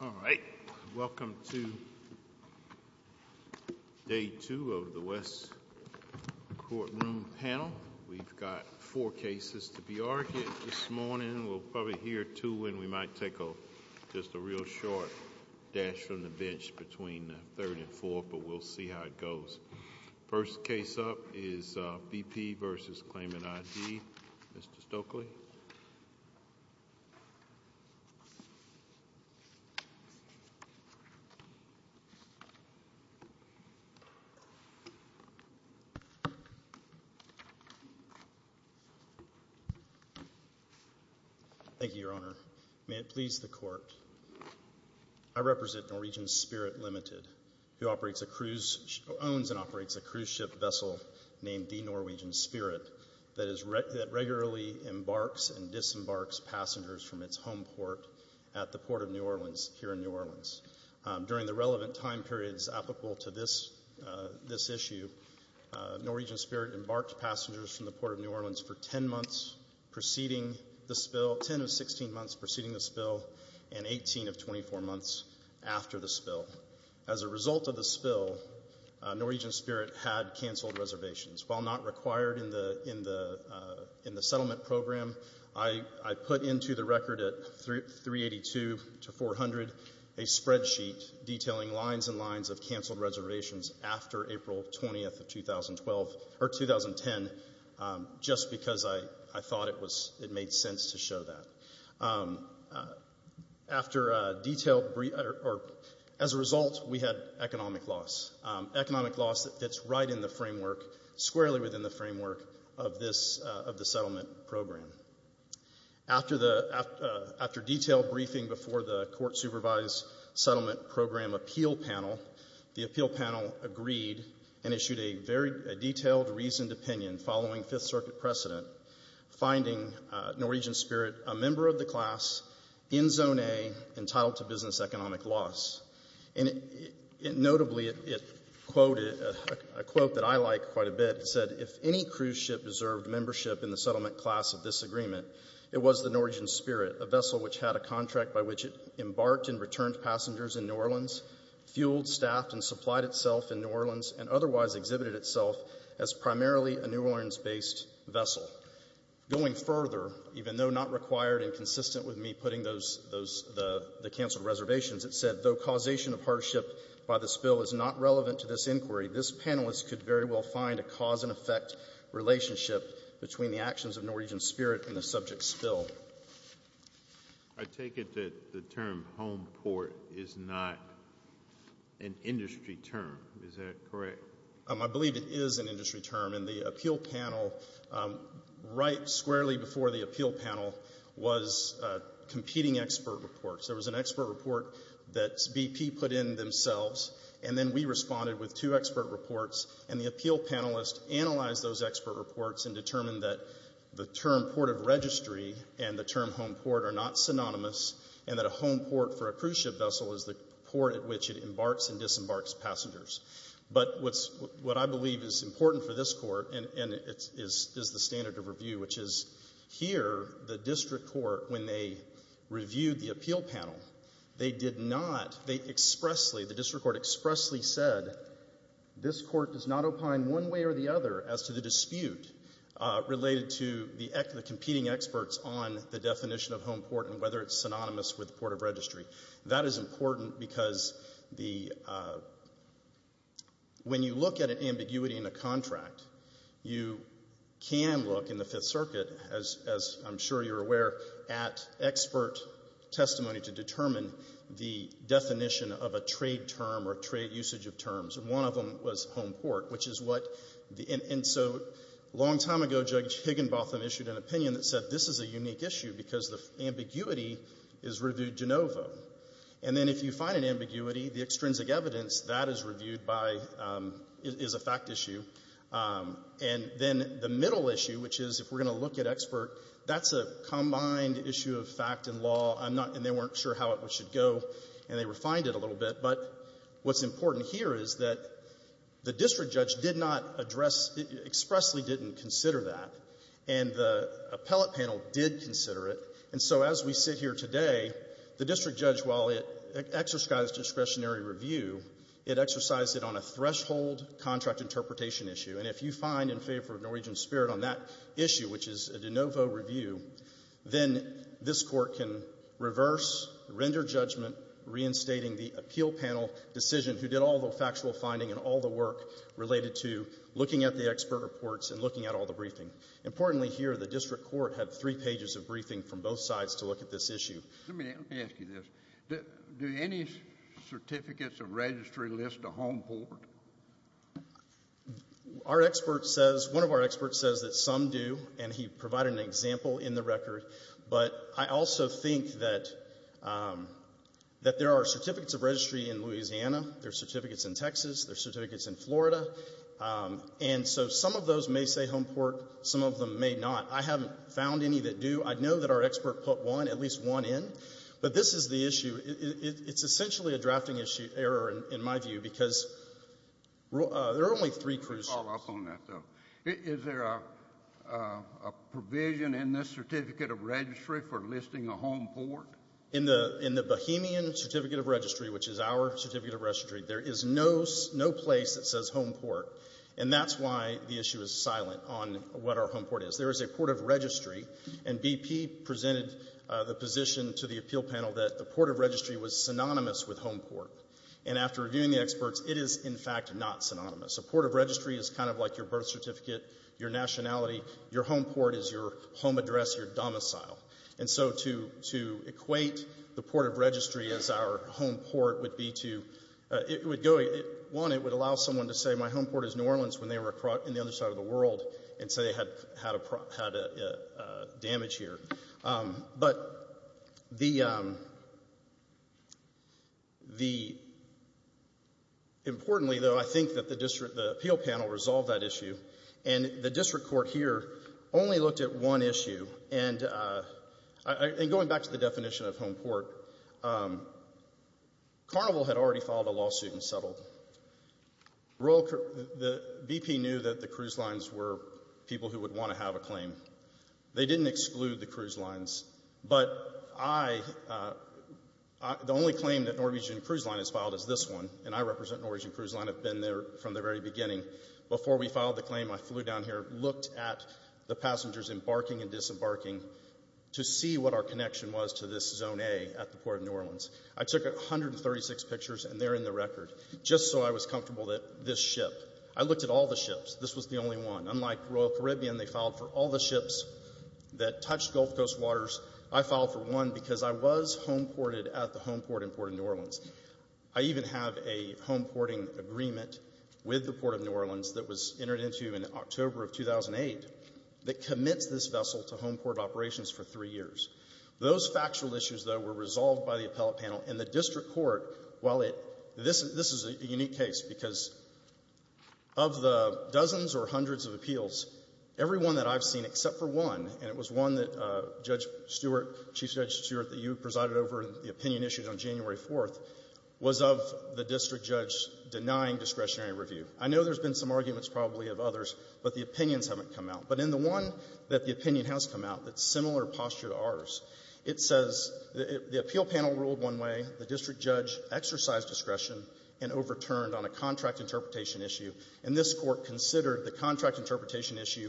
All right. Welcome to Day 2 of the West Courtroom Panel. We've got 4 cases to be argued this morning. We'll probably hear 2 when we might take just a real short dash from the bench between the 3rd and 4th, but we'll see how it goes. First case up is BP v. Claimant ID. Mr. Stokely. Thank you, Your Honor. May it please the Court, I represent Norwegian Spirit Limited, who owns and operates a cruise ship vessel named the Norwegian Spirit that is regularly embarks and disembarks passengers from its home port at the Port of New Orleans here in New Orleans. During the relevant time periods applicable to this issue, Norwegian Spirit embarked passengers from the Port of New Orleans for 10 months preceding the spill, 10 of 16 months preceding the spill, and 18 of 24 months after the spill. As a result of the spill, Norwegian Spirit had canceled reservations. While not required in the settlement program, I put into the record at 382-400 a spreadsheet detailing lines and lines of canceled reservations after April 20, 2010, just because I thought it made sense to show that. As a result, we had economic loss, economic loss that fits right in the framework, squarely within the framework of the settlement program. After detailed briefing before the court-supervised settlement program appeal panel, the appeal panel agreed and issued a very the class in zone A entitled to business economic loss. Notably, it quoted a quote that I like quite a bit. It said, if any cruise ship deserved membership in the settlement class of this agreement, it was the Norwegian Spirit, a vessel which had a contract by which it embarked and returned passengers in New Orleans, fueled, staffed, and supplied itself in New Orleans, and otherwise exhibited itself as primarily a New Orleans-based vessel. Going further, even though not required and consistent with me putting the canceled reservations, it said, though causation of hardship by the spill is not relevant to this inquiry, this panelist could very well find a cause and effect relationship between the actions of Norwegian Spirit and the subject spill. I take it that the term home port is not an industry term. Is that correct? I believe it is an industry term, and the appeal panel right squarely before the appeal panel was competing expert reports. There was an expert report that BP put in themselves, and then we responded with two expert reports, and the appeal panelist analyzed those expert reports and determined that the term port of registry and the term home port are not synonymous, and that a home port for a cruise ship vessel is the port at which it embarks and disembarks passengers. But what I believe is important for this court, and it is the standard of review, which is here, the district court, when they reviewed the appeal panel, they did not, they expressly, the district court expressly said, this court does not opine one way or the other as to the dispute related to the competing experts on the definition of home port and whether it's synonymous with port of registry. That is important because the, when you look at an ambiguity in a contract, you can look in the Fifth Circuit, as I'm sure you're aware, at expert testimony to determine the definition of a trade term or trade usage of terms, and one of them was home port, which is what the, and so a long time ago, Judge Higginbotham issued an opinion that said this is a unique issue because the ambiguity is reviewed de novo, and then if you find an ambiguity, the extrinsic evidence, that is reviewed by, is a fact issue, and then the middle issue, which is, if we're going to look at expert, that's a combined issue of fact and law. I'm not, and they weren't sure how it should go, and they refined it a little bit, but what's important here is that the district judge did not address, expressly didn't consider that, and the appellate panel did consider it, and so as we sit here today, the district judge, while it exercised discretionary review, it exercised it on a threshold contract interpretation issue, and if you find in favor of Norwegian Spirit on that issue, which is a de novo review, then this Court can reverse, render judgment, reinstating the appeal panel decision who did all the factual finding and all the work related to looking at the expert reports and looking at the briefing. Importantly here, the district court had three pages of briefing from both sides to look at this issue. Let me ask you this. Do any certificates of registry list a home port? Our expert says, one of our experts says that some do, and he provided an example in the record, but I also think that there are certificates of registry in Louisiana, there's certificates in some of them may not. I haven't found any that do. I know that our expert put one, at least one in, but this is the issue. It's essentially a drafting error in my view, because there are only three cruise ships. Let me follow up on that, though. Is there a provision in this certificate of registry for listing a home port? In the Bohemian certificate of registry, which is our certificate of registry, there is no place that says home port, and that's why the issue is silent on what our home port is. There is a port of registry, and BP presented the position to the appeal panel that the port of registry was synonymous with home port, and after reviewing the experts, it is, in fact, not synonymous. A port of registry is kind of like your birth certificate, your nationality, your home port is your home address, your domicile. And so to equate the port of registry as our home port would be to, it would go, one, it would allow someone to say my home port is New Orleans when they were in the other side of the world, and say they had damage here. But the, importantly, though, I think that the appeal panel resolved that issue, and the district court here only looked at one issue, and going back to the definition of home port, Carnival had already filed a lawsuit and settled. The BP knew that the cruise lines were people who would want to have a claim. They didn't exclude the cruise lines, but I, the only claim that Norwegian Cruise Line has filed is this one, and I represent Norwegian Cruise Line, I've been there from the very beginning. Before we filed the claim, I flew down here, looked at the passengers embarking and disembarking to see what our connection was to Zone A at the Port of New Orleans. I took 136 pictures, and they're in the record, just so I was comfortable that this ship, I looked at all the ships, this was the only one. Unlike Royal Caribbean, they filed for all the ships that touched Gulf Coast waters. I filed for one because I was home ported at the home port in Port of New Orleans. I even have a home porting agreement with the Port of New Orleans that was entered into in October of 2008 that commits this by the appellate panel. And the district court, while it, this is a unique case because of the dozens or hundreds of appeals, every one that I've seen except for one, and it was one that Judge Stewart, Chief Judge Stewart, that you presided over the opinion issued on January 4th, was of the district judge denying discretionary review. I know there's been some arguments probably of others, but the opinions haven't come out. But in the one that the opinion has come out that's similar posture to ours, it says the appeal panel ruled one way, the district judge exercised discretion and overturned on a contract interpretation issue. And this court considered the contract interpretation issue,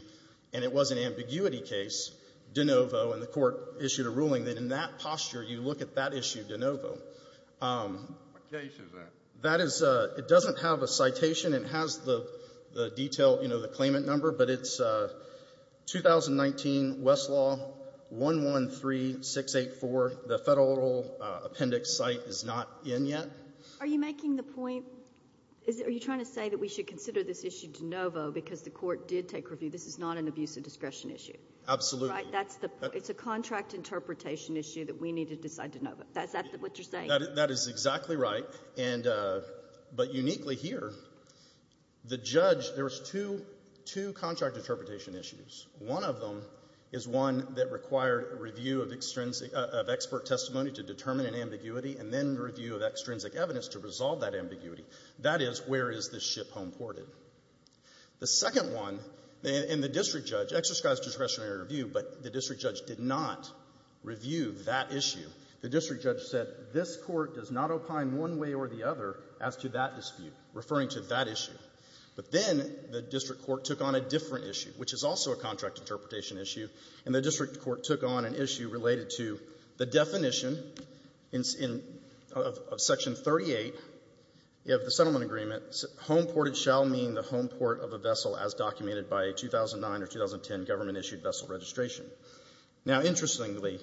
and it was an ambiguity case, de novo, and the court issued a ruling that in that posture, you look at that issue de novo. What case is that? That is, it doesn't have a citation. It has the detail, you know, the claimant number, but it's 2019 Westlaw 113684. The federal appendix site is not in yet. Are you making the point, are you trying to say that we should consider this issue de novo because the court did take review? This is not an abuse of discretion issue. Absolutely. Right? That's the, it's a contract interpretation issue that we need to decide de novo. Is that what you're saying? That is exactly right. And, uh, but uniquely here, the judge, there was two, two contract interpretation issues. One of them is one that required review of extrinsic, of expert testimony to determine an ambiguity and then review of extrinsic evidence to resolve that ambiguity. That is, where is this ship home ported? The second one, and the district judge exercised discretionary review, but the district judge did not review that issue. The district judge said this court does not opine one way or the other as to that dispute, referring to that issue. But then the district court took on a different issue, which is also a contract interpretation issue, and the district court took on an issue related to the definition in, in, of Section 38 of the settlement agreement, home ported shall mean the home port of a vessel as documented by a 2009 or 2010 government-issued vessel registration. Now, interestingly,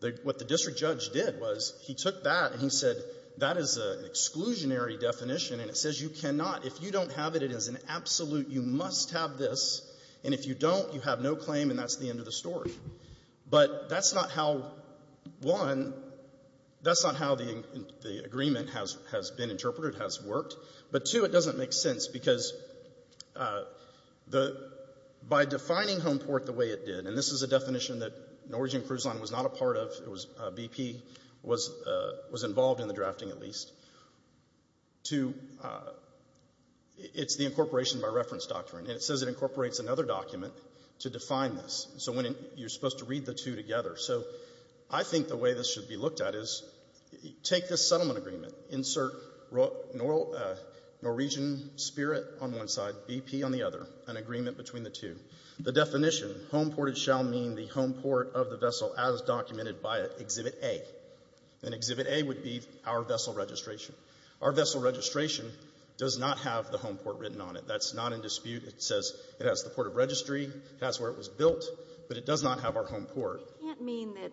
the, what the district judge did was he took that and he said, that is an exclusionary definition, and it says you cannot, if you don't have it, it is an absolute, you must have this, and if you don't, you have no claim, and that's the end of the story. But that's not how, one, that's not how the, the agreement has, has been interpreted, has worked. But, two, it doesn't make sense, because the, by defining home port the way it did, and this is a definition that Norwegian Cruise Line was not a part of, it was BP, was, was involved in the drafting at least, to, it's the incorporation by reference doctrine, and it says it incorporates another document to define this, so when you're supposed to read the two together, so I think the way this should be looked at is, take this settlement agreement, insert Norwegian Spirit on one side, BP on the other, an agreement between the two, the definition, home ported shall mean the home port of the Exhibit A, and Exhibit A would be our vessel registration. Our vessel registration does not have the home port written on it, that's not in dispute, it says it has the port of registry, that's where it was built, but it does not have our home port. It can't mean that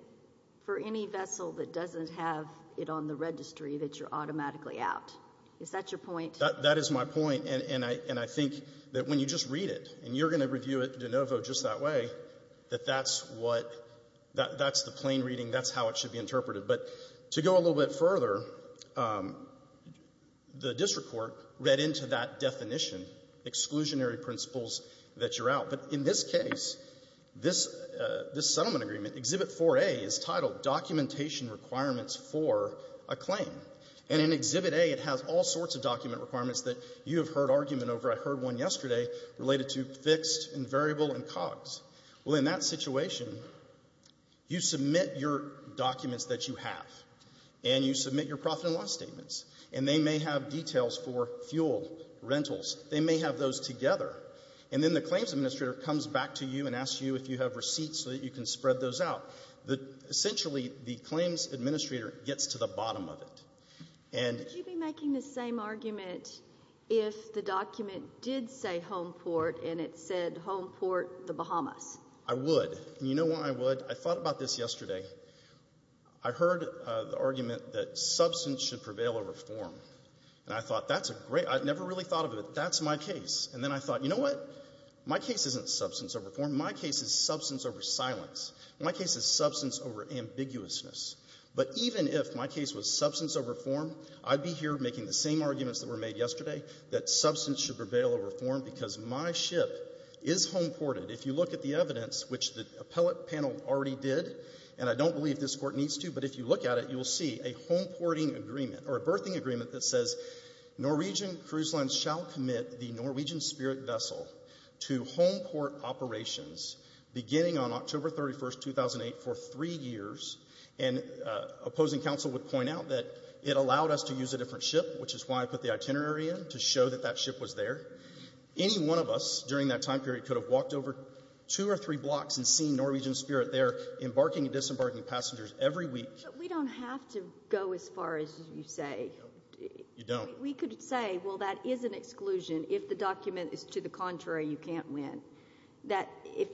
for any vessel that doesn't have it on the registry that you're automatically out, is that your point? That is my point, and I, and I think that when you just read it, and you're going to review it de novo just that way, that that's what, that's the plain reading, that's how it should be interpreted, but to go a little bit further, the district court read into that definition, exclusionary principles that you're out, but in this case, this, this settlement agreement, Exhibit 4A is titled documentation requirements for a claim, and in Exhibit A it has all sorts of document requirements that you have heard argument over, I heard one yesterday, related to fixed and variable and cogs. Well, in that situation, you submit your documents that you have, and you submit your profit and loss statements, and they may have details for fuel, rentals, they may have those together, and then the claims administrator comes back to you and asks you if you have receipts so that you can spread those out. The, essentially, the claims administrator gets to the bottom of it, and Would you be making the same argument if the document did say home port, and it said home I would. You know why I would? I thought about this yesterday. I heard the argument that substance should prevail over form, and I thought that's a great, I never really thought of it, that's my case, and then I thought, you know what? My case isn't substance over form, my case is substance over silence. My case is substance over ambiguousness. But even if my case was substance over form, I'd be here making the same arguments that were made yesterday, that substance should prevail over form, because my ship is home ported. If you look at the evidence, which the appellate panel already did, and I don't believe this Court needs to, but if you look at it, you will see a home porting agreement, or a berthing agreement that says Norwegian Cruise Lines shall commit the Norwegian Spirit vessel to home port operations beginning on October 31, 2008, for three years, and opposing counsel would point out that it allowed us to use a different ship, which is why I put the itinerary in, to show that that ship was there. Any one of us, during that time period, could have walked over two or three blocks and seen Norwegian Spirit there, embarking and disembarking passengers every week. But we don't have to go as far as you say. You don't. We could say, well, that is an exclusion, if the document is to the contrary, you can't win. That, if,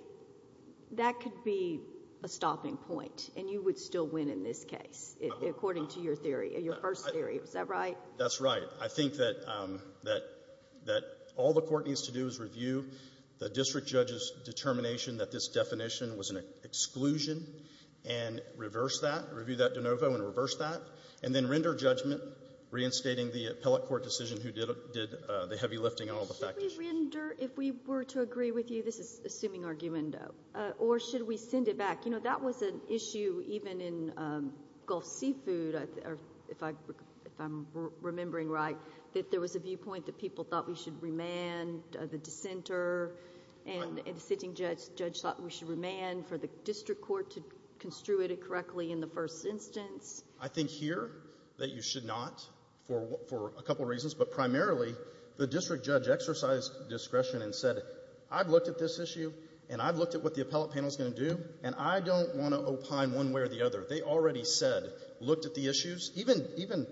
that could be a stopping point, and you would still win in this case, according to your theory, your first theory, is that right? That's right. I think that all the Court needs to do is review the district judge's determination that this definition was an exclusion, and reverse that, review that de novo and reverse that, and then render judgment, reinstating the appellate court decision who did the heavy lifting on all the factors. Should we render, if we were to agree with you, this is assuming argumento, or should we send it back? That was an issue, even in Gulf Seafood, if I'm remembering right, that there was a viewpoint that people thought we should remand the dissenter, and a dissenting judge thought we should remand for the district court to construe it correctly in the first instance. I think here, that you should not, for a couple reasons, but primarily, the district judge exercised discretion and said, I've looked at this issue, and I've looked at what the issue is, and I don't want to opine one way or the other. They already said, looked at the issues, even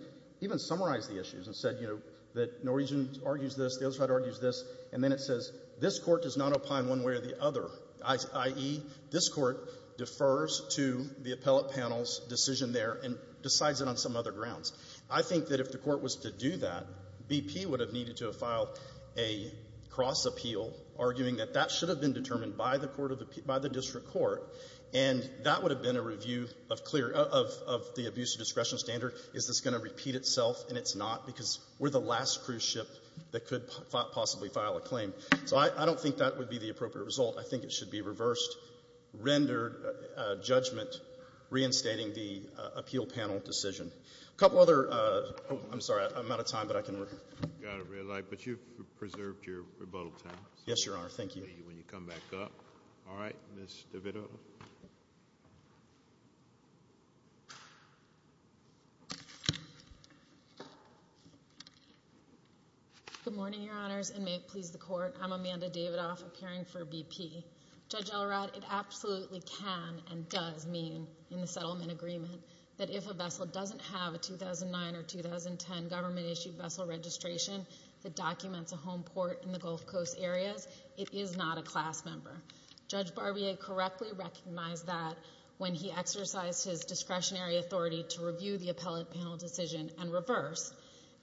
summarized the issues, and said, you know, that Norwegian argues this, the other side argues this, and then it says, this Court does not opine one way or the other, i.e., this Court defers to the appellate panel's decision there and decides it on some other grounds. I think that if the Court was to do that, BP would have needed to have filed a cross appeal, arguing that that should have been determined by the court of the ---- by the district court, and that would have been a review of clear ---- of the abuse of discretion standard, is this going to repeat itself, and it's not, because we're the last cruise ship that could possibly file a claim. So I don't think that would be the appropriate result. I think it should be reversed, rendered judgment, reinstating the appeal panel decision. A couple other ---- oh, I'm sorry. I'm out of time, but I can ---- You've got a red light, but you've preserved your rebuttal time. Yes, Your Honor. Thank you. When you come back up. All right, Ms. DeVito. Good morning, Your Honors, and may it please the Court. I'm Amanda Davidoff, appearing for BP. Judge Elrod, it absolutely can and does mean in the settlement agreement that if a vessel doesn't have a 2009 or 2010 government-issued vessel registration that documents a home port in the Gulf Coast areas, it is not a class member. Judge Barbier correctly recognized that when he exercised his discretionary authority to review the appellate panel decision and reverse,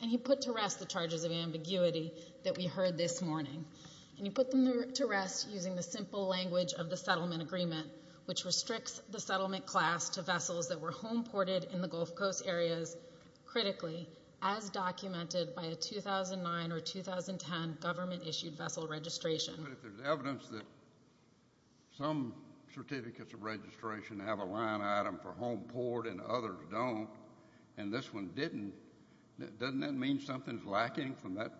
and he put to rest the charges of ambiguity that we heard this morning, and he put them to rest using the simple language of the settlement agreement, which restricts the settlement class to vessels that were home ported in the Gulf Coast areas, critically, as documented by a 2009 or 2010 government-issued vessel registration. But if there's evidence that some certificates of registration have a line item for home port and others don't, and this one didn't, doesn't that mean something's lacking from that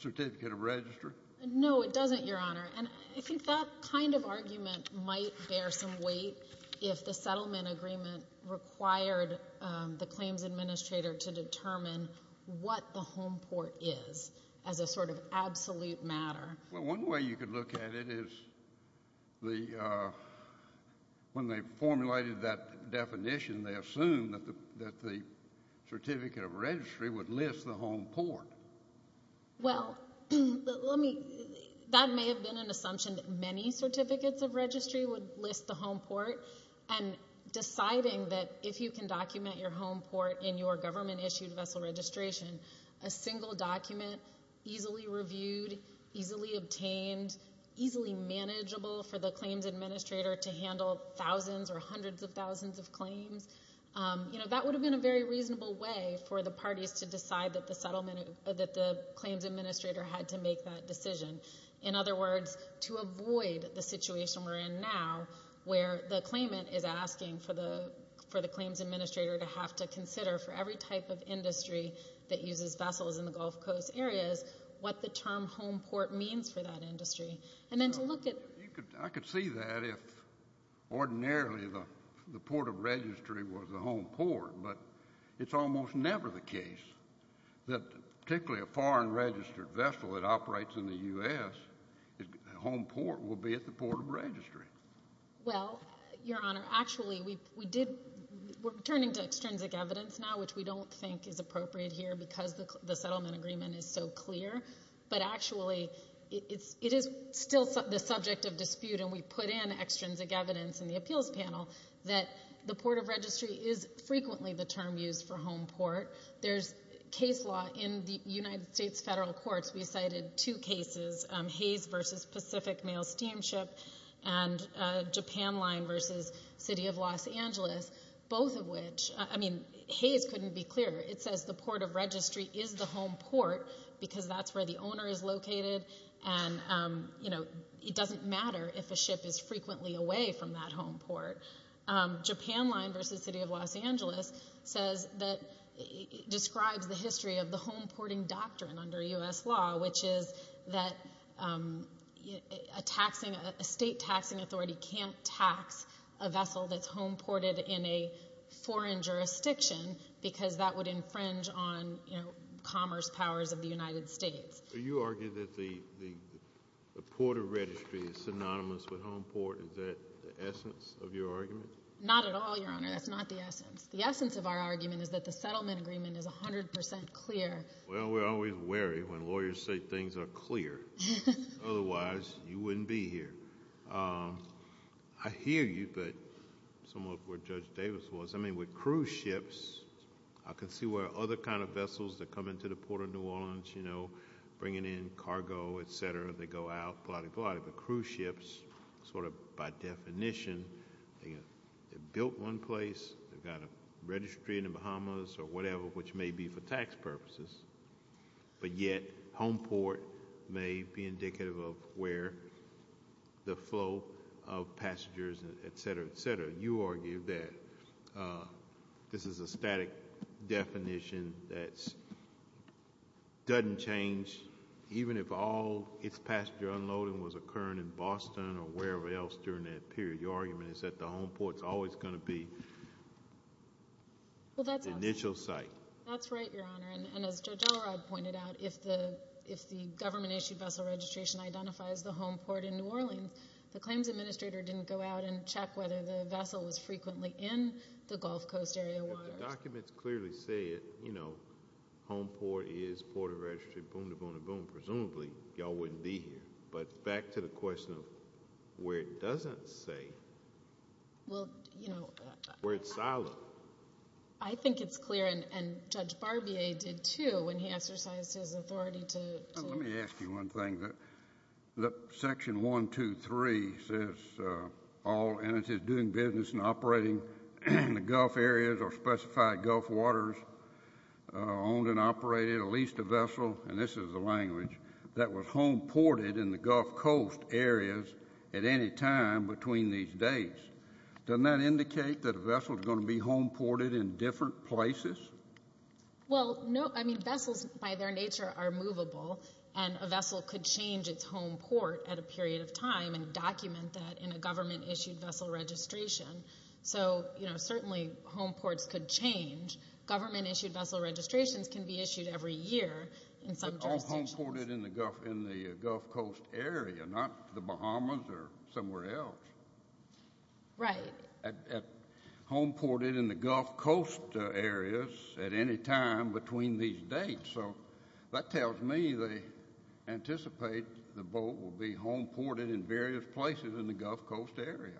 certificate of registry? No, it doesn't, Your Honor, and I think that kind of argument might bear some weight if the settlement agreement required the claims administrator to determine what the home port is as a sort of absolute matter. Well, one way you could look at it is the, when they formulated that definition, they assumed that the certificate of registry would list the home port. Well, let me, that may have been an assumption that many certificates of registry would list the home port, and deciding that if you can document your home port in your government-issued vessel registration, a single document, easily reviewed, easily obtained, easily manageable for the claims administrator to handle thousands or hundreds of thousands of claims, you know, that would have been a very reasonable way for the parties to decide that the settlement, that the claims administrator had to make that decision. In other words, to avoid the situation we're in now, where the claimant is asking for the claims administrator to have to consider for every type of industry that uses vessels in the Gulf Coast areas what the term home port means for that industry. And then to look at... I could see that if ordinarily the port of registry was the home port, but it's almost never the case that particularly a foreign-registered vessel that operates in the U.S., the home port will be at the port of registry. Well, Your Honor, actually we did, we're turning to extrinsic evidence now, which we don't think is appropriate here because the settlement agreement is so clear, but actually it is still the subject of dispute and we put in extrinsic evidence in the appeals panel that the port of registry is frequently the term used for home port. There's case law in the United States federal courts. We cited two cases, Hayes v. Pacific Mail Steamship and Japan Line v. City of Los Angeles, both of which, I mean, Hayes couldn't be clearer. It says the port of registry is the home port because that's where the owner is located and it doesn't matter if a ship is frequently away from that home port. Japan Line v. City of Los Angeles describes the history of the home porting doctrine under U.S. law, which is that a state taxing authority can't tax a vessel that's home ported in a foreign jurisdiction because that would infringe on commerce powers of the United States. So you argue that the port of registry is synonymous with home port. Is that the essence of your argument? Not at all, Your Honor. That's not the essence. The essence of our argument is that the settlement agreement is 100% clear. Well, we're always wary when lawyers say things are clear. Otherwise, you wouldn't be here. I hear you, but somewhat where Judge Davis was. I mean, with cruise ships, I can see where other kinds of vessels that come into the country, bringing in cargo, et cetera, they go out, but cruise ships, sort of by definition, they're built one place, they've got a registry in the Bahamas or whatever, which may be for tax purposes, but yet home port may be indicative of where the flow of passengers, et cetera, et cetera. You argue that this is a static definition that doesn't change even if all its passenger unloading was occurring in Boston or wherever else during that period. Your argument is that the home port is always going to be the initial site. That's right, Your Honor, and as Judge Elrod pointed out, if the government-issued vessel registration identifies the home port in New Orleans, the claims administrator didn't go out and check whether the vessel was frequently in the Gulf Coast area waters. The documents clearly say it. Home port is Port of Registry, boom-da-boom-da-boom. Presumably, y'all wouldn't be here, but back to the question of where it doesn't say, where it's solid. I think it's clear, and Judge Barbier did, too, when he exercised his authority to- One thing, Section 123 says all entities doing business and operating in the Gulf areas or specified Gulf waters, owned and operated, or leased a vessel, and this is the language, that was home ported in the Gulf Coast areas at any time between these dates. Doesn't that indicate that a vessel is going to be home ported in different places? Well, no. I mean, vessels, by their nature, are movable, and a vessel could change its home port at a period of time and document that in a government-issued vessel registration, so certainly home ports could change. Government-issued vessel registrations can be issued every year in some jurisdictions. But all home ported in the Gulf Coast area, not the Bahamas or somewhere else. Right. At home ported in the Gulf Coast areas at any time between these dates, so that tells me they anticipate the boat will be home ported in various places in the Gulf Coast area.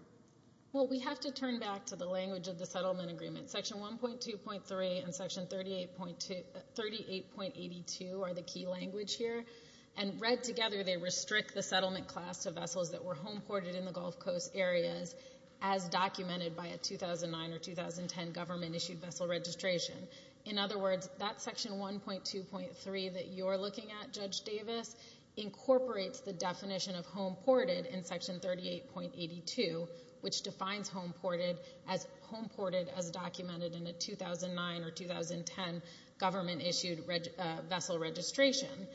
Well, we have to turn back to the language of the settlement agreement. Section 1.2.3 and Section 38.82 are the key language here, and read together, they restrict the settlement class to vessels that were home ported in the Gulf Coast areas as documented by a 2009 or 2010 government-issued vessel registration. In other words, that Section 1.2.3 that you're looking at, Judge Davis, incorporates the definition of home ported in Section 38.82, which defines home ported as home ported as documented in a 2009 or 2010 government-issued vessel registration.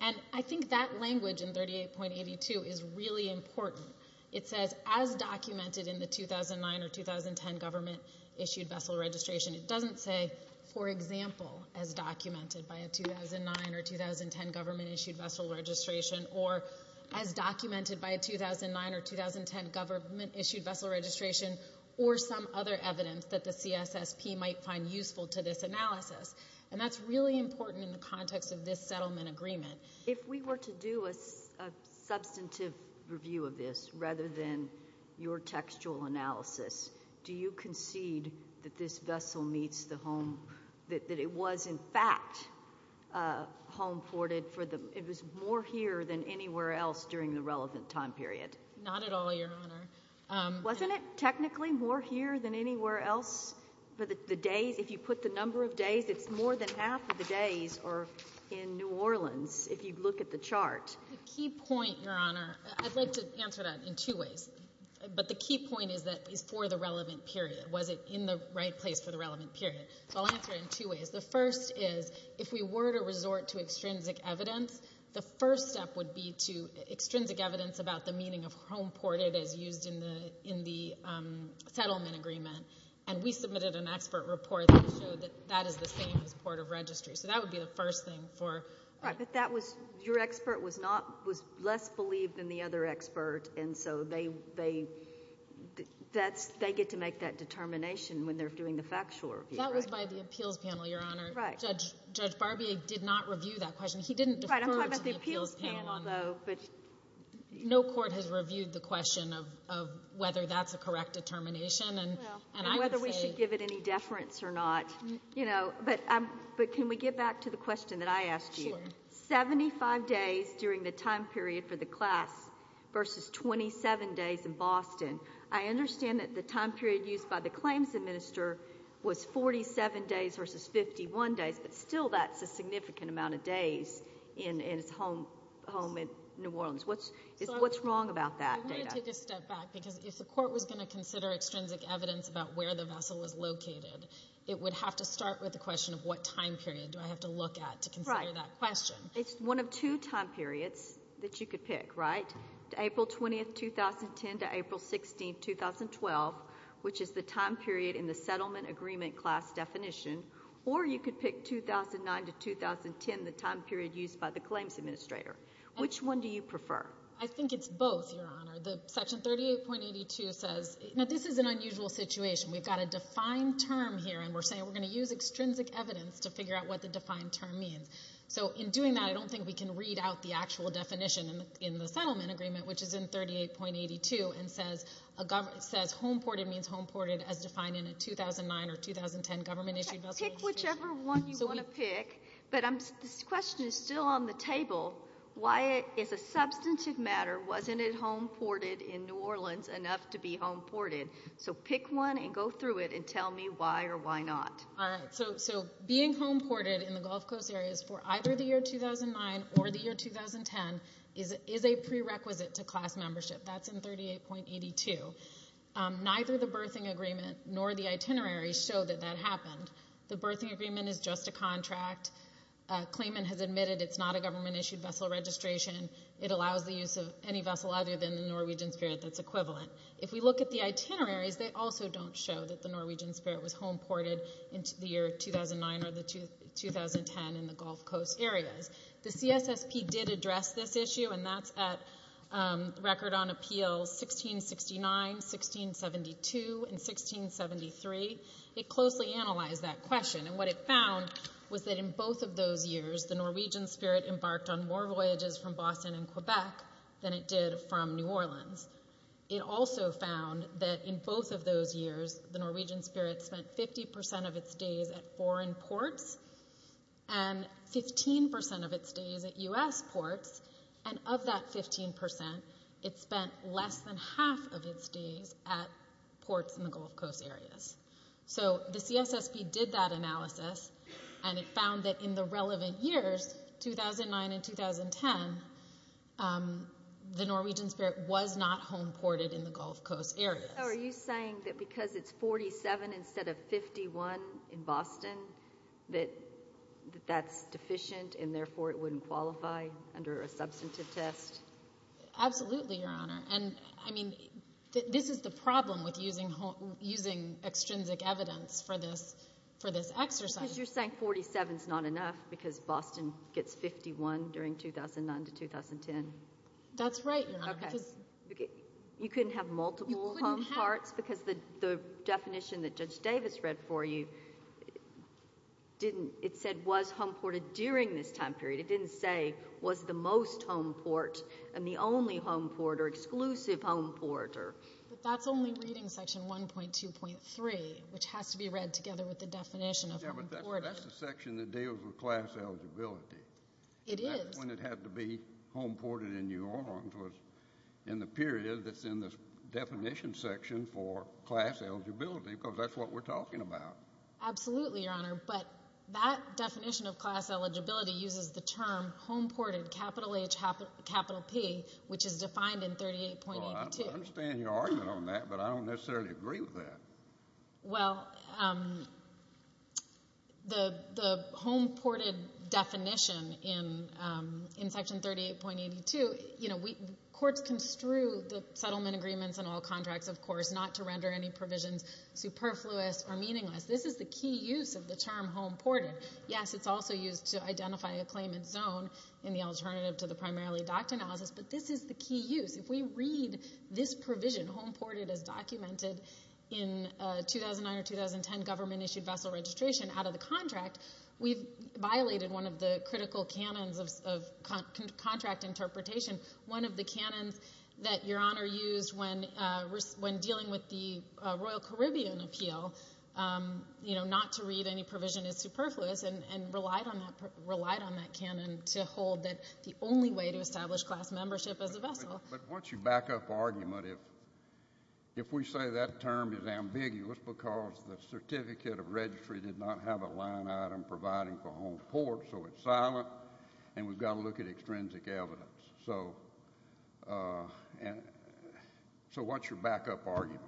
And I think that language in 38.82 is really important. It says as documented in the 2009 or 2010 government-issued vessel registration. It doesn't say, for example, as documented by a 2009 or 2010 government-issued vessel registration or as documented by a 2009 or 2010 government-issued vessel registration or some other evidence that the CSSP might find useful to this analysis. And that's really important in the context of this settlement agreement. If we were to do a substantive review of this, rather than your textual analysis, do you concede that this vessel meets the home, that it was in fact home ported for the, it was more here than anywhere else during the relevant time period? Not at all, Your Honor. Wasn't it technically more here than anywhere else for the days? If you put the number of days, it's more than half of the days are in New Orleans. If you look at the chart. The key point, Your Honor, I'd like to answer that in two ways. But the key point is that it's for the relevant period. Was it in the right place for the relevant period? So I'll answer it in two ways. The first is, if we were to resort to extrinsic evidence, the first step would be to, extrinsic evidence about the meaning of home ported as used in the settlement agreement. And we submitted an expert report that showed that that is the same as port of registry. So that would be the first thing for. Right. But that was, your expert was not, was less believed than the other expert. And so they, they, that's, they get to make that determination when they're doing the factual review, right? That was by the appeals panel, Your Honor. Right. Judge, Judge Barbier did not review that question. He didn't defer to the appeals panel on. But. No court has reviewed the question of, of whether that's a correct determination. And, and I would say. And whether we should give it any deference or not, you know. But can we get back to the question that I asked you? Sure. 75 days during the time period for the class versus 27 days in Boston. I understand that the time period used by the claims administer was 47 days versus 51 days, but still that's a significant amount of days in, in his home, home in New Orleans. What's, what's wrong about that? I want to take a step back because if the court was going to consider extrinsic evidence about where the vessel was located, it would have to start with the question of what time period do I have to look at to consider that question? It's one of two time periods that you could pick, right? April 20th, 2010 to April 16th, 2012, which is the time period in the settlement agreement class definition. Or you could pick 2009 to 2010, the time period used by the claims administrator. Which one do you prefer? I think it's both, Your Honor. Section 38.82 says, now this is an unusual situation. We've got a defined term here and we're saying we're going to use extrinsic evidence to figure out what the defined term means. So in doing that, I don't think we can read out the actual definition in the settlement agreement, which is in 38.82 and says, says home ported means home ported as defined in a 2009 or 2010 government issued vessel. Pick whichever one you want to pick, but this question is still on the table. Why is a substantive matter, wasn't it home ported in New Orleans enough to be home ported? So pick one and go through it and tell me why or why not. All right, so being home ported in the Gulf Coast areas for either the year 2009 or the year 2010 is a prerequisite to class membership. That's in 38.82. Neither the birthing agreement nor the itinerary show that that happened. The birthing agreement is just a contract. Claimant has admitted it's not a government issued vessel registration. It allows the use of any vessel other than the Norwegian Spirit that's equivalent. If we look at the itineraries, they also don't show that the Norwegian Spirit was home ported into the year 2009 or the 2010 in the Gulf Coast areas. The CSSP did address this issue and that's at record on appeals 1669, 1672, and 1673. It closely analyzed that question and what it found was that in both of those years, the Norwegian Spirit embarked on more voyages from Boston and Quebec than it did from New Orleans. It also found that in both of those years, the Norwegian Spirit spent 50 percent of its days at foreign ports and 15 percent of its days at U.S. ports and of that 15 percent, it spent less than half of its days at ports in the Gulf Coast areas. The CSSP did that analysis and it found that in the relevant years, 2009 and 2010, the Norwegian Spirit was not home ported in the Gulf Coast areas. Are you saying that because it's 47 instead of 51 in Boston, that that's deficient and therefore it wouldn't qualify under a substantive test? Absolutely, Your Honor. This is the problem with using extrinsic evidence for this exercise. Because you're saying 47 is not enough because Boston gets 51 during 2009 to 2010. That's right, Your Honor. You couldn't have multiple home ports because the definition that Judge Davis read for you, didn't, it said was home ported during this time period. It didn't say was the most home port and the only home port or exclusive home port. But that's only reading section 1.2.3, which has to be read together with the definition. Yeah, but that's the section that deals with class eligibility. It is. That's when it had to be home ported in New Orleans was in the period that's in the definition section for class eligibility because that's what we're talking about. Absolutely, Your Honor, but that definition of class eligibility uses the term home ported, capital H, capital P, which is defined in 38.82. I understand your argument on that, but I don't necessarily agree with that. Well, the home ported definition in section 38.82, you know, courts construe the settlement agreements and all contracts, of course, not to render any provisions superfluous or meaningless. This is the key use of the term home ported. Yes, it's also used to identify a claimant's zone in the alternative to the primarily docked analysis, but this is the key use. If we read this provision, home ported as documented in 2009 or 2010 government-issued vessel registration out of the contract, we've violated one of the critical canons of contract interpretation. One of the canons that Your Honor used when dealing with the Royal Caribbean appeal, you know, not to read any provision as superfluous and relied on that canon to hold that the only way to establish class membership as a vessel. But once you back up argument, if we say that term is ambiguous because the certificate of registry did not have a line item providing for home port, so it's silent, and we've got to look at extrinsic evidence, so what's your backup argument?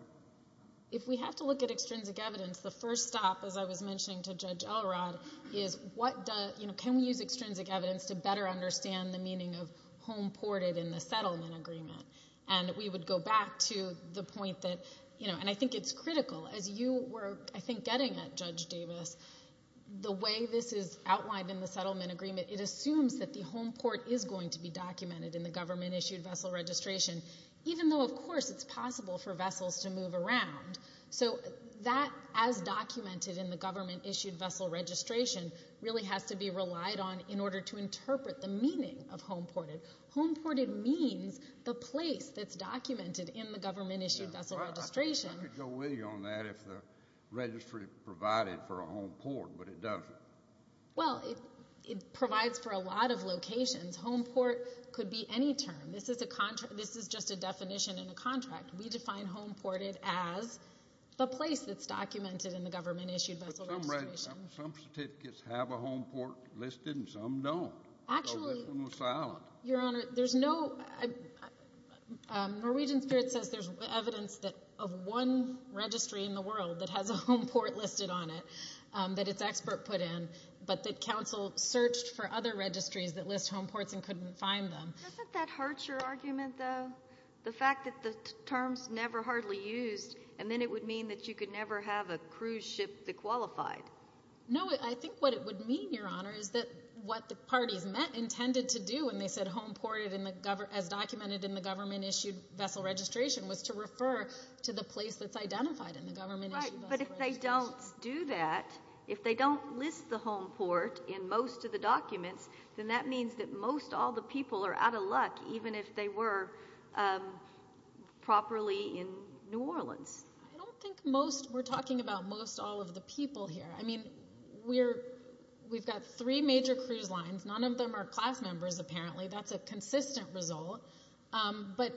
If we have to look at extrinsic evidence, the first stop, as I was mentioning to Judge Elrod, is what does, you know, can we use extrinsic evidence to better understand the meaning of home ported in the settlement agreement? And we would go back to the point that, you know, and I think it's critical. As you were, I think, getting at Judge Davis, the way this is outlined in the settlement agreement, it assumes that the home port is going to be documented in the government-issued vessel registration, even though, of course, it's possible for vessels to move around. So that, as documented in the government-issued vessel registration, really has to be relied on in order to interpret the meaning of home ported. Home ported means the place that's documented in the government-issued vessel registration. I could go with you on that if the registry provided for a home port, but it doesn't. Well, it provides for a lot of locations. Home port could be any term. This is just a definition in a contract. We define home ported as the place that's documented in the government-issued vessel registration. Some certificates have a home port listed and some don't. Actually, Your Honor, there's no—Norwegian Spirit says there's evidence of one registry in the world that has a home port listed on it, that it's expert put in, but that counsel searched for other registries that list home ports and couldn't find them. Doesn't that hurt your argument, though? The fact that the term's never hardly used, and then it would mean that you could never have a cruise ship that qualified. No, I think what it would mean, Your Honor, is that what the parties meant, intended to do when they said home ported as documented in the government-issued vessel registration was to refer to the place that's identified in the government-issued vessel registration. Right, but if they don't do that, if they don't list the home port in most of the places, they're out of luck, even if they were properly in New Orleans. I don't think most—we're talking about most all of the people here. I mean, we've got three major cruise lines. None of them are class members, apparently. That's a consistent result, but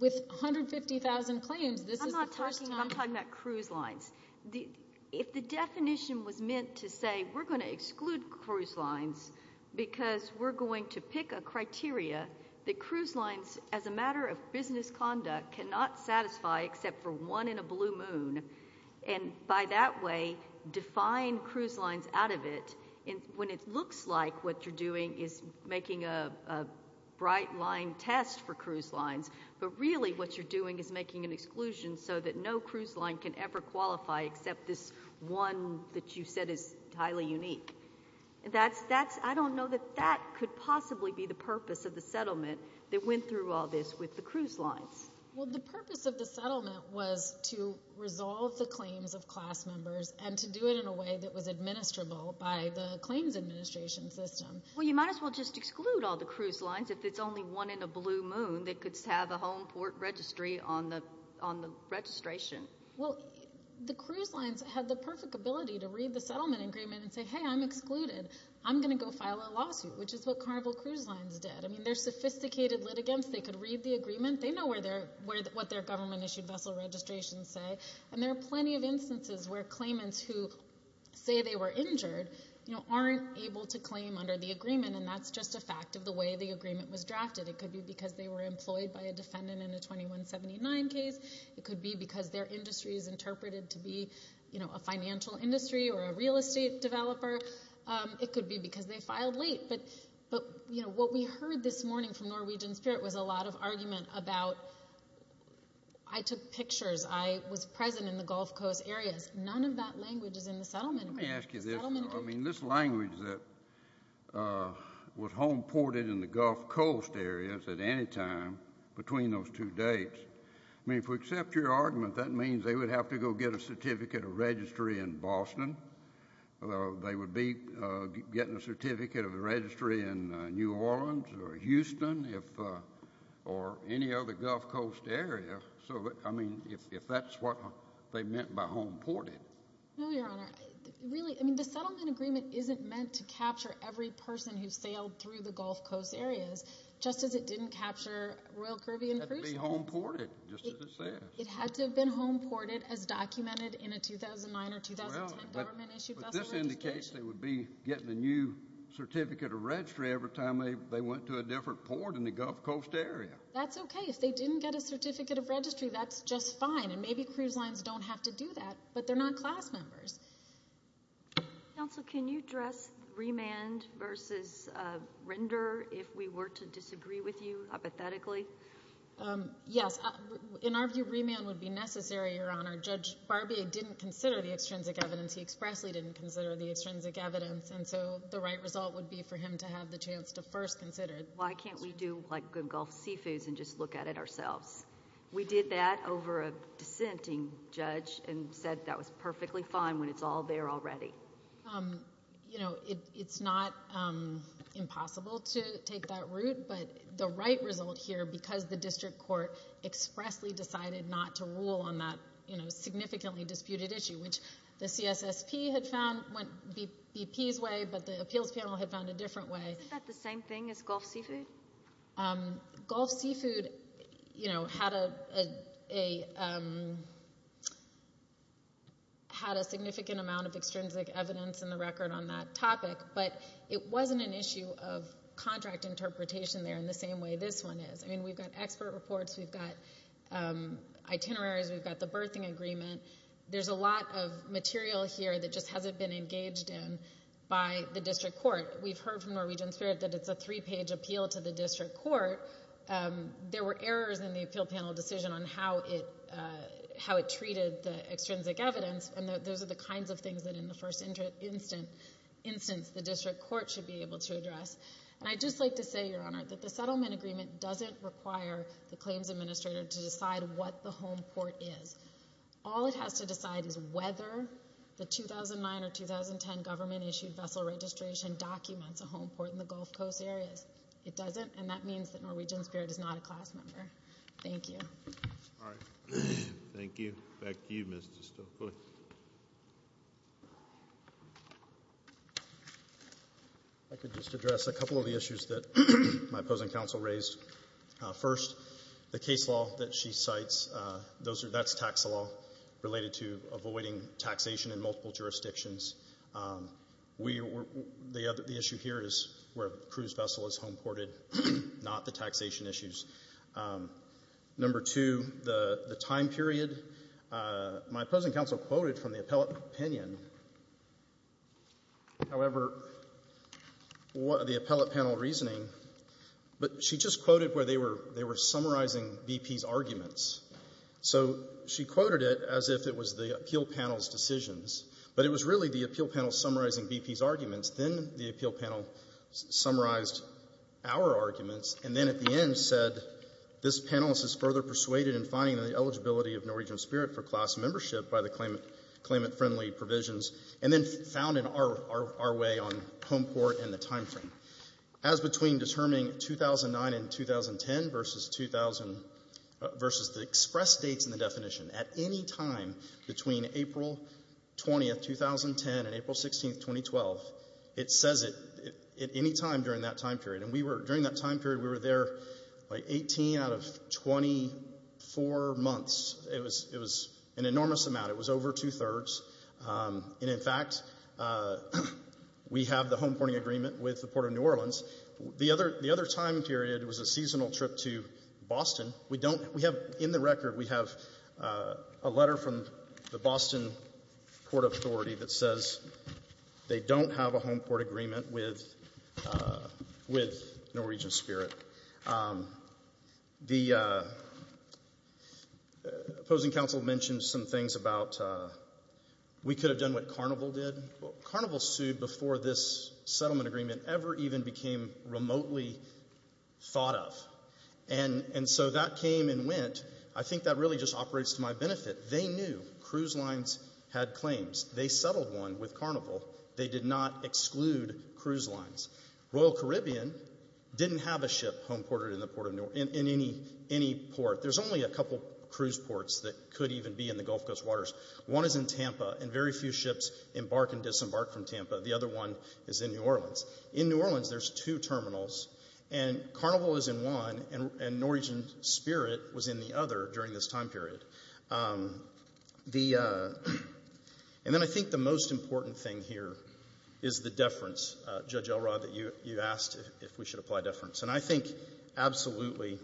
with 150,000 claims, this is the first time— I'm not talking—I'm talking about cruise lines. If the definition was meant to say, we're going to exclude cruise lines because we're going to pick a criteria that cruise lines, as a matter of business conduct, cannot satisfy except for one in a blue moon, and by that way define cruise lines out of it, when it looks like what you're doing is making a bright line test for cruise lines, but really what you're doing is making an exclusion so that no cruise line can ever qualify except this one that you said is highly unique. That's—I don't know that that could possibly be the purpose of the settlement that went through all this with the cruise lines. Well, the purpose of the settlement was to resolve the claims of class members and to do it in a way that was administrable by the claims administration system. Well, you might as well just exclude all the cruise lines if it's only one in a blue moon that could have a home port registry on the registration. Well, the cruise lines had the perfect ability to read the settlement agreement and say, hey, I'm excluded. I'm going to go file a lawsuit, which is what Carnival Cruise Lines did. I mean, they're sophisticated litigants. They could read the agreement. They know what their government-issued vessel registrations say, and there are plenty of instances where claimants who say they were injured aren't able to claim under the agreement, and that's just a fact of the way the agreement was drafted. It could be because they were employed by a defendant in a 2179 case. It could be because their industry is interpreted to be a financial industry or a real estate developer. It could be because they filed late, but, you know, what we heard this morning from Norwegian Spirit was a lot of argument about, I took pictures, I was present in the Gulf Coast areas. None of that language is in the settlement agreement. Let me ask you this, though. I mean, this language that was home ported in the Gulf Coast areas at any time between those two dates, I mean, if we accept your argument, that means they would have to go get a certificate of registry in Boston, or they would be getting a certificate of a registry in New Orleans or Houston or any other Gulf Coast area, so, I mean, if that's what they meant by home ported. No, Your Honor. Really, I mean, the settlement agreement isn't meant to capture every person who sailed through the Gulf Coast areas, just as it didn't capture Royal Caribbean cruise ships. It had to be home ported, just as it says. It had to have been home ported as documented in a 2009 or 2010 government-issued vessel registration. Well, but this indicates they would be getting a new certificate of registry every time they went to a different port in the Gulf Coast area. That's okay. If they didn't get a certificate of registry, that's just fine, and maybe cruise lines don't have to do that, but they're not class members. Counsel, can you address remand versus render if we were to disagree with you, hypothetically? Yes. In our view, remand would be necessary, Your Honor. Judge Barbier didn't consider the extrinsic evidence. He expressly didn't consider the extrinsic evidence, and so the right result would be for him to have the chance to first consider it. Why can't we do like good Gulf seafoods and just look at it ourselves? We did that over a dissenting judge and said that was perfectly fine when it's all there already. It's not impossible to take that route, but the right result here, because the district court expressly decided not to rule on that significantly disputed issue, which the CSSP had found went BP's way, but the appeals panel had found a different way. Isn't that the same thing as Gulf seafood? Gulf seafood had a significant amount of extrinsic evidence in the record on that topic, but it wasn't an issue of contract interpretation there in the same way this one is. We've got expert reports. We've got itineraries. We've got the birthing agreement. There's a lot of material here that just hasn't been engaged in by the district court. We've heard from Norwegian Spirit that it's a three-page appeal to the district court. There were errors in the appeal panel decision on how it treated the extrinsic evidence, and those are the kinds of things that in the first instance the district court should be able to address. And I'd just like to say, Your Honor, that the settlement agreement doesn't require the claims administrator to decide what the home port is. All it has to decide is whether the 2009 or 2010 government-issued vessel registration documents a home port in the Gulf Coast areas. It doesn't, and that means that Norwegian Spirit is not a class member. Thank you. All right. Thank you. Back to you, Mr. Stokley. I could just address a couple of the issues that my opposing counsel raised. First, the case law that she cites, that's tax law related to avoiding taxation in multiple jurisdictions. The issue here is where the cruise vessel is home ported, not the taxation issues. Number two, the time period. My opposing counsel quoted from the appellate opinion, however, the appellate panel reasoning, but she just quoted where they were summarizing BP's arguments. So she quoted it as if it was the appeal panel's decisions, but it was really the appeal panel summarizing BP's arguments. Then the appeal panel summarized our arguments, and then at the end said, this panelist is further persuaded in finding the eligibility of Norwegian Spirit for class membership by the claimant-friendly provisions, and then found in our way on home port and the time frame. As between determining 2009 and 2010 versus the express dates in the definition, at any time between April 20th, 2010, and April 16th, 2012, it says it at any time during that time period. During that time period, we were there 18 out of 24 months. It was an enormous amount. It was over two-thirds. And, in fact, we have the home porting agreement with the Port of New Orleans. The other time period was a seasonal trip to Boston. We don't we have in the record we have a letter from the Boston Port Authority that says they don't have a home port agreement with Norwegian Spirit. The opposing council mentioned some things about we could have done what Carnival did. Carnival sued before this settlement agreement ever even became remotely thought of. And so that came and went. I think that really just operates to my benefit. They knew cruise lines had claims. They settled one with Carnival. They did not exclude cruise lines. Royal Caribbean didn't have a ship home ported in any port. There's only a couple cruise ports that could even be in the Gulf Coast waters. One is in Tampa, and very few ships embark and disembark from Tampa. The other one is in New Orleans. In New Orleans, there's two terminals. And Carnival is in one, and Norwegian Spirit was in the other during this time period. And then I think the most important thing here is the deference, Judge Elrod, that you asked if we should apply deference. And I think absolutely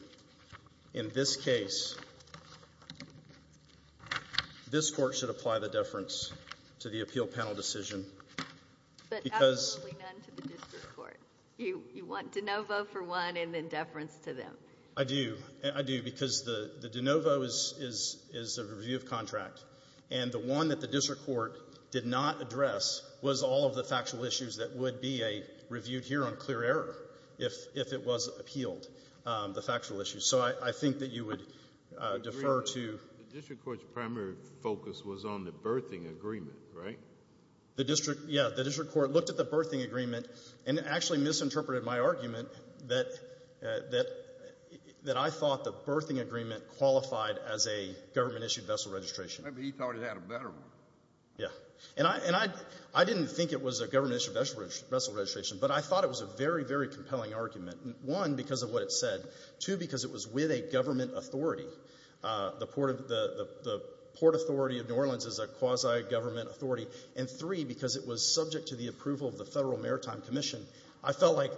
in this case this court should apply the deference to the appeal panel decision. But absolutely none to the district court. You want de novo for one and then deference to them. I do. I do because the de novo is a review of contract, and the one that the district court did not address was all of the factual issues that would be reviewed here on clear error if it was appealed, the factual issues. So I think that you would defer to— The district court's primary focus was on the berthing agreement, right? Yeah, the district court looked at the berthing agreement and actually misinterpreted my argument that I thought the berthing agreement qualified as a government-issued vessel registration. Maybe he thought it had a better one. Yeah. And I didn't think it was a government-issued vessel registration, but I thought it was a very, very compelling argument. One, because of what it said. Two, because it was with a government authority. The Port Authority of New Orleans is a quasi-government authority. And three, because it was subject to the approval of the Federal Maritime Commission. I felt like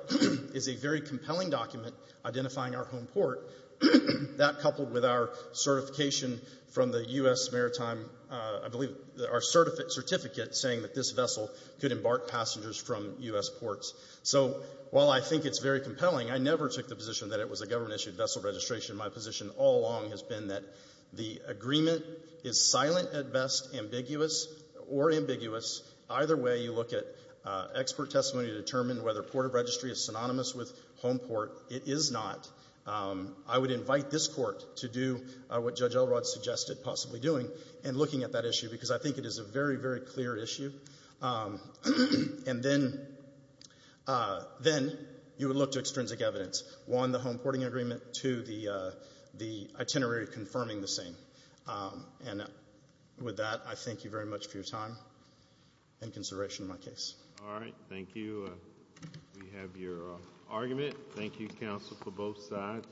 it's a very compelling document identifying our home port. That coupled with our certification from the U.S. Maritime— I believe our certificate saying that this vessel could embark passengers from U.S. ports. So while I think it's very compelling, I never took the position that it was a government-issued vessel registration. My position all along has been that the agreement is silent at best, ambiguous or ambiguous. Either way, you look at expert testimony to determine whether port of registry is synonymous with home port. It is not. I would invite this Court to do what Judge Elrod suggested possibly doing and looking at that issue, because I think it is a very, very clear issue. And then you would look to extrinsic evidence. One, the home porting agreement. Two, the itinerary confirming the same. And with that, I thank you very much for your time and consideration of my case. All right. Thank you. We have your argument. Thank you, counsel, for both sides.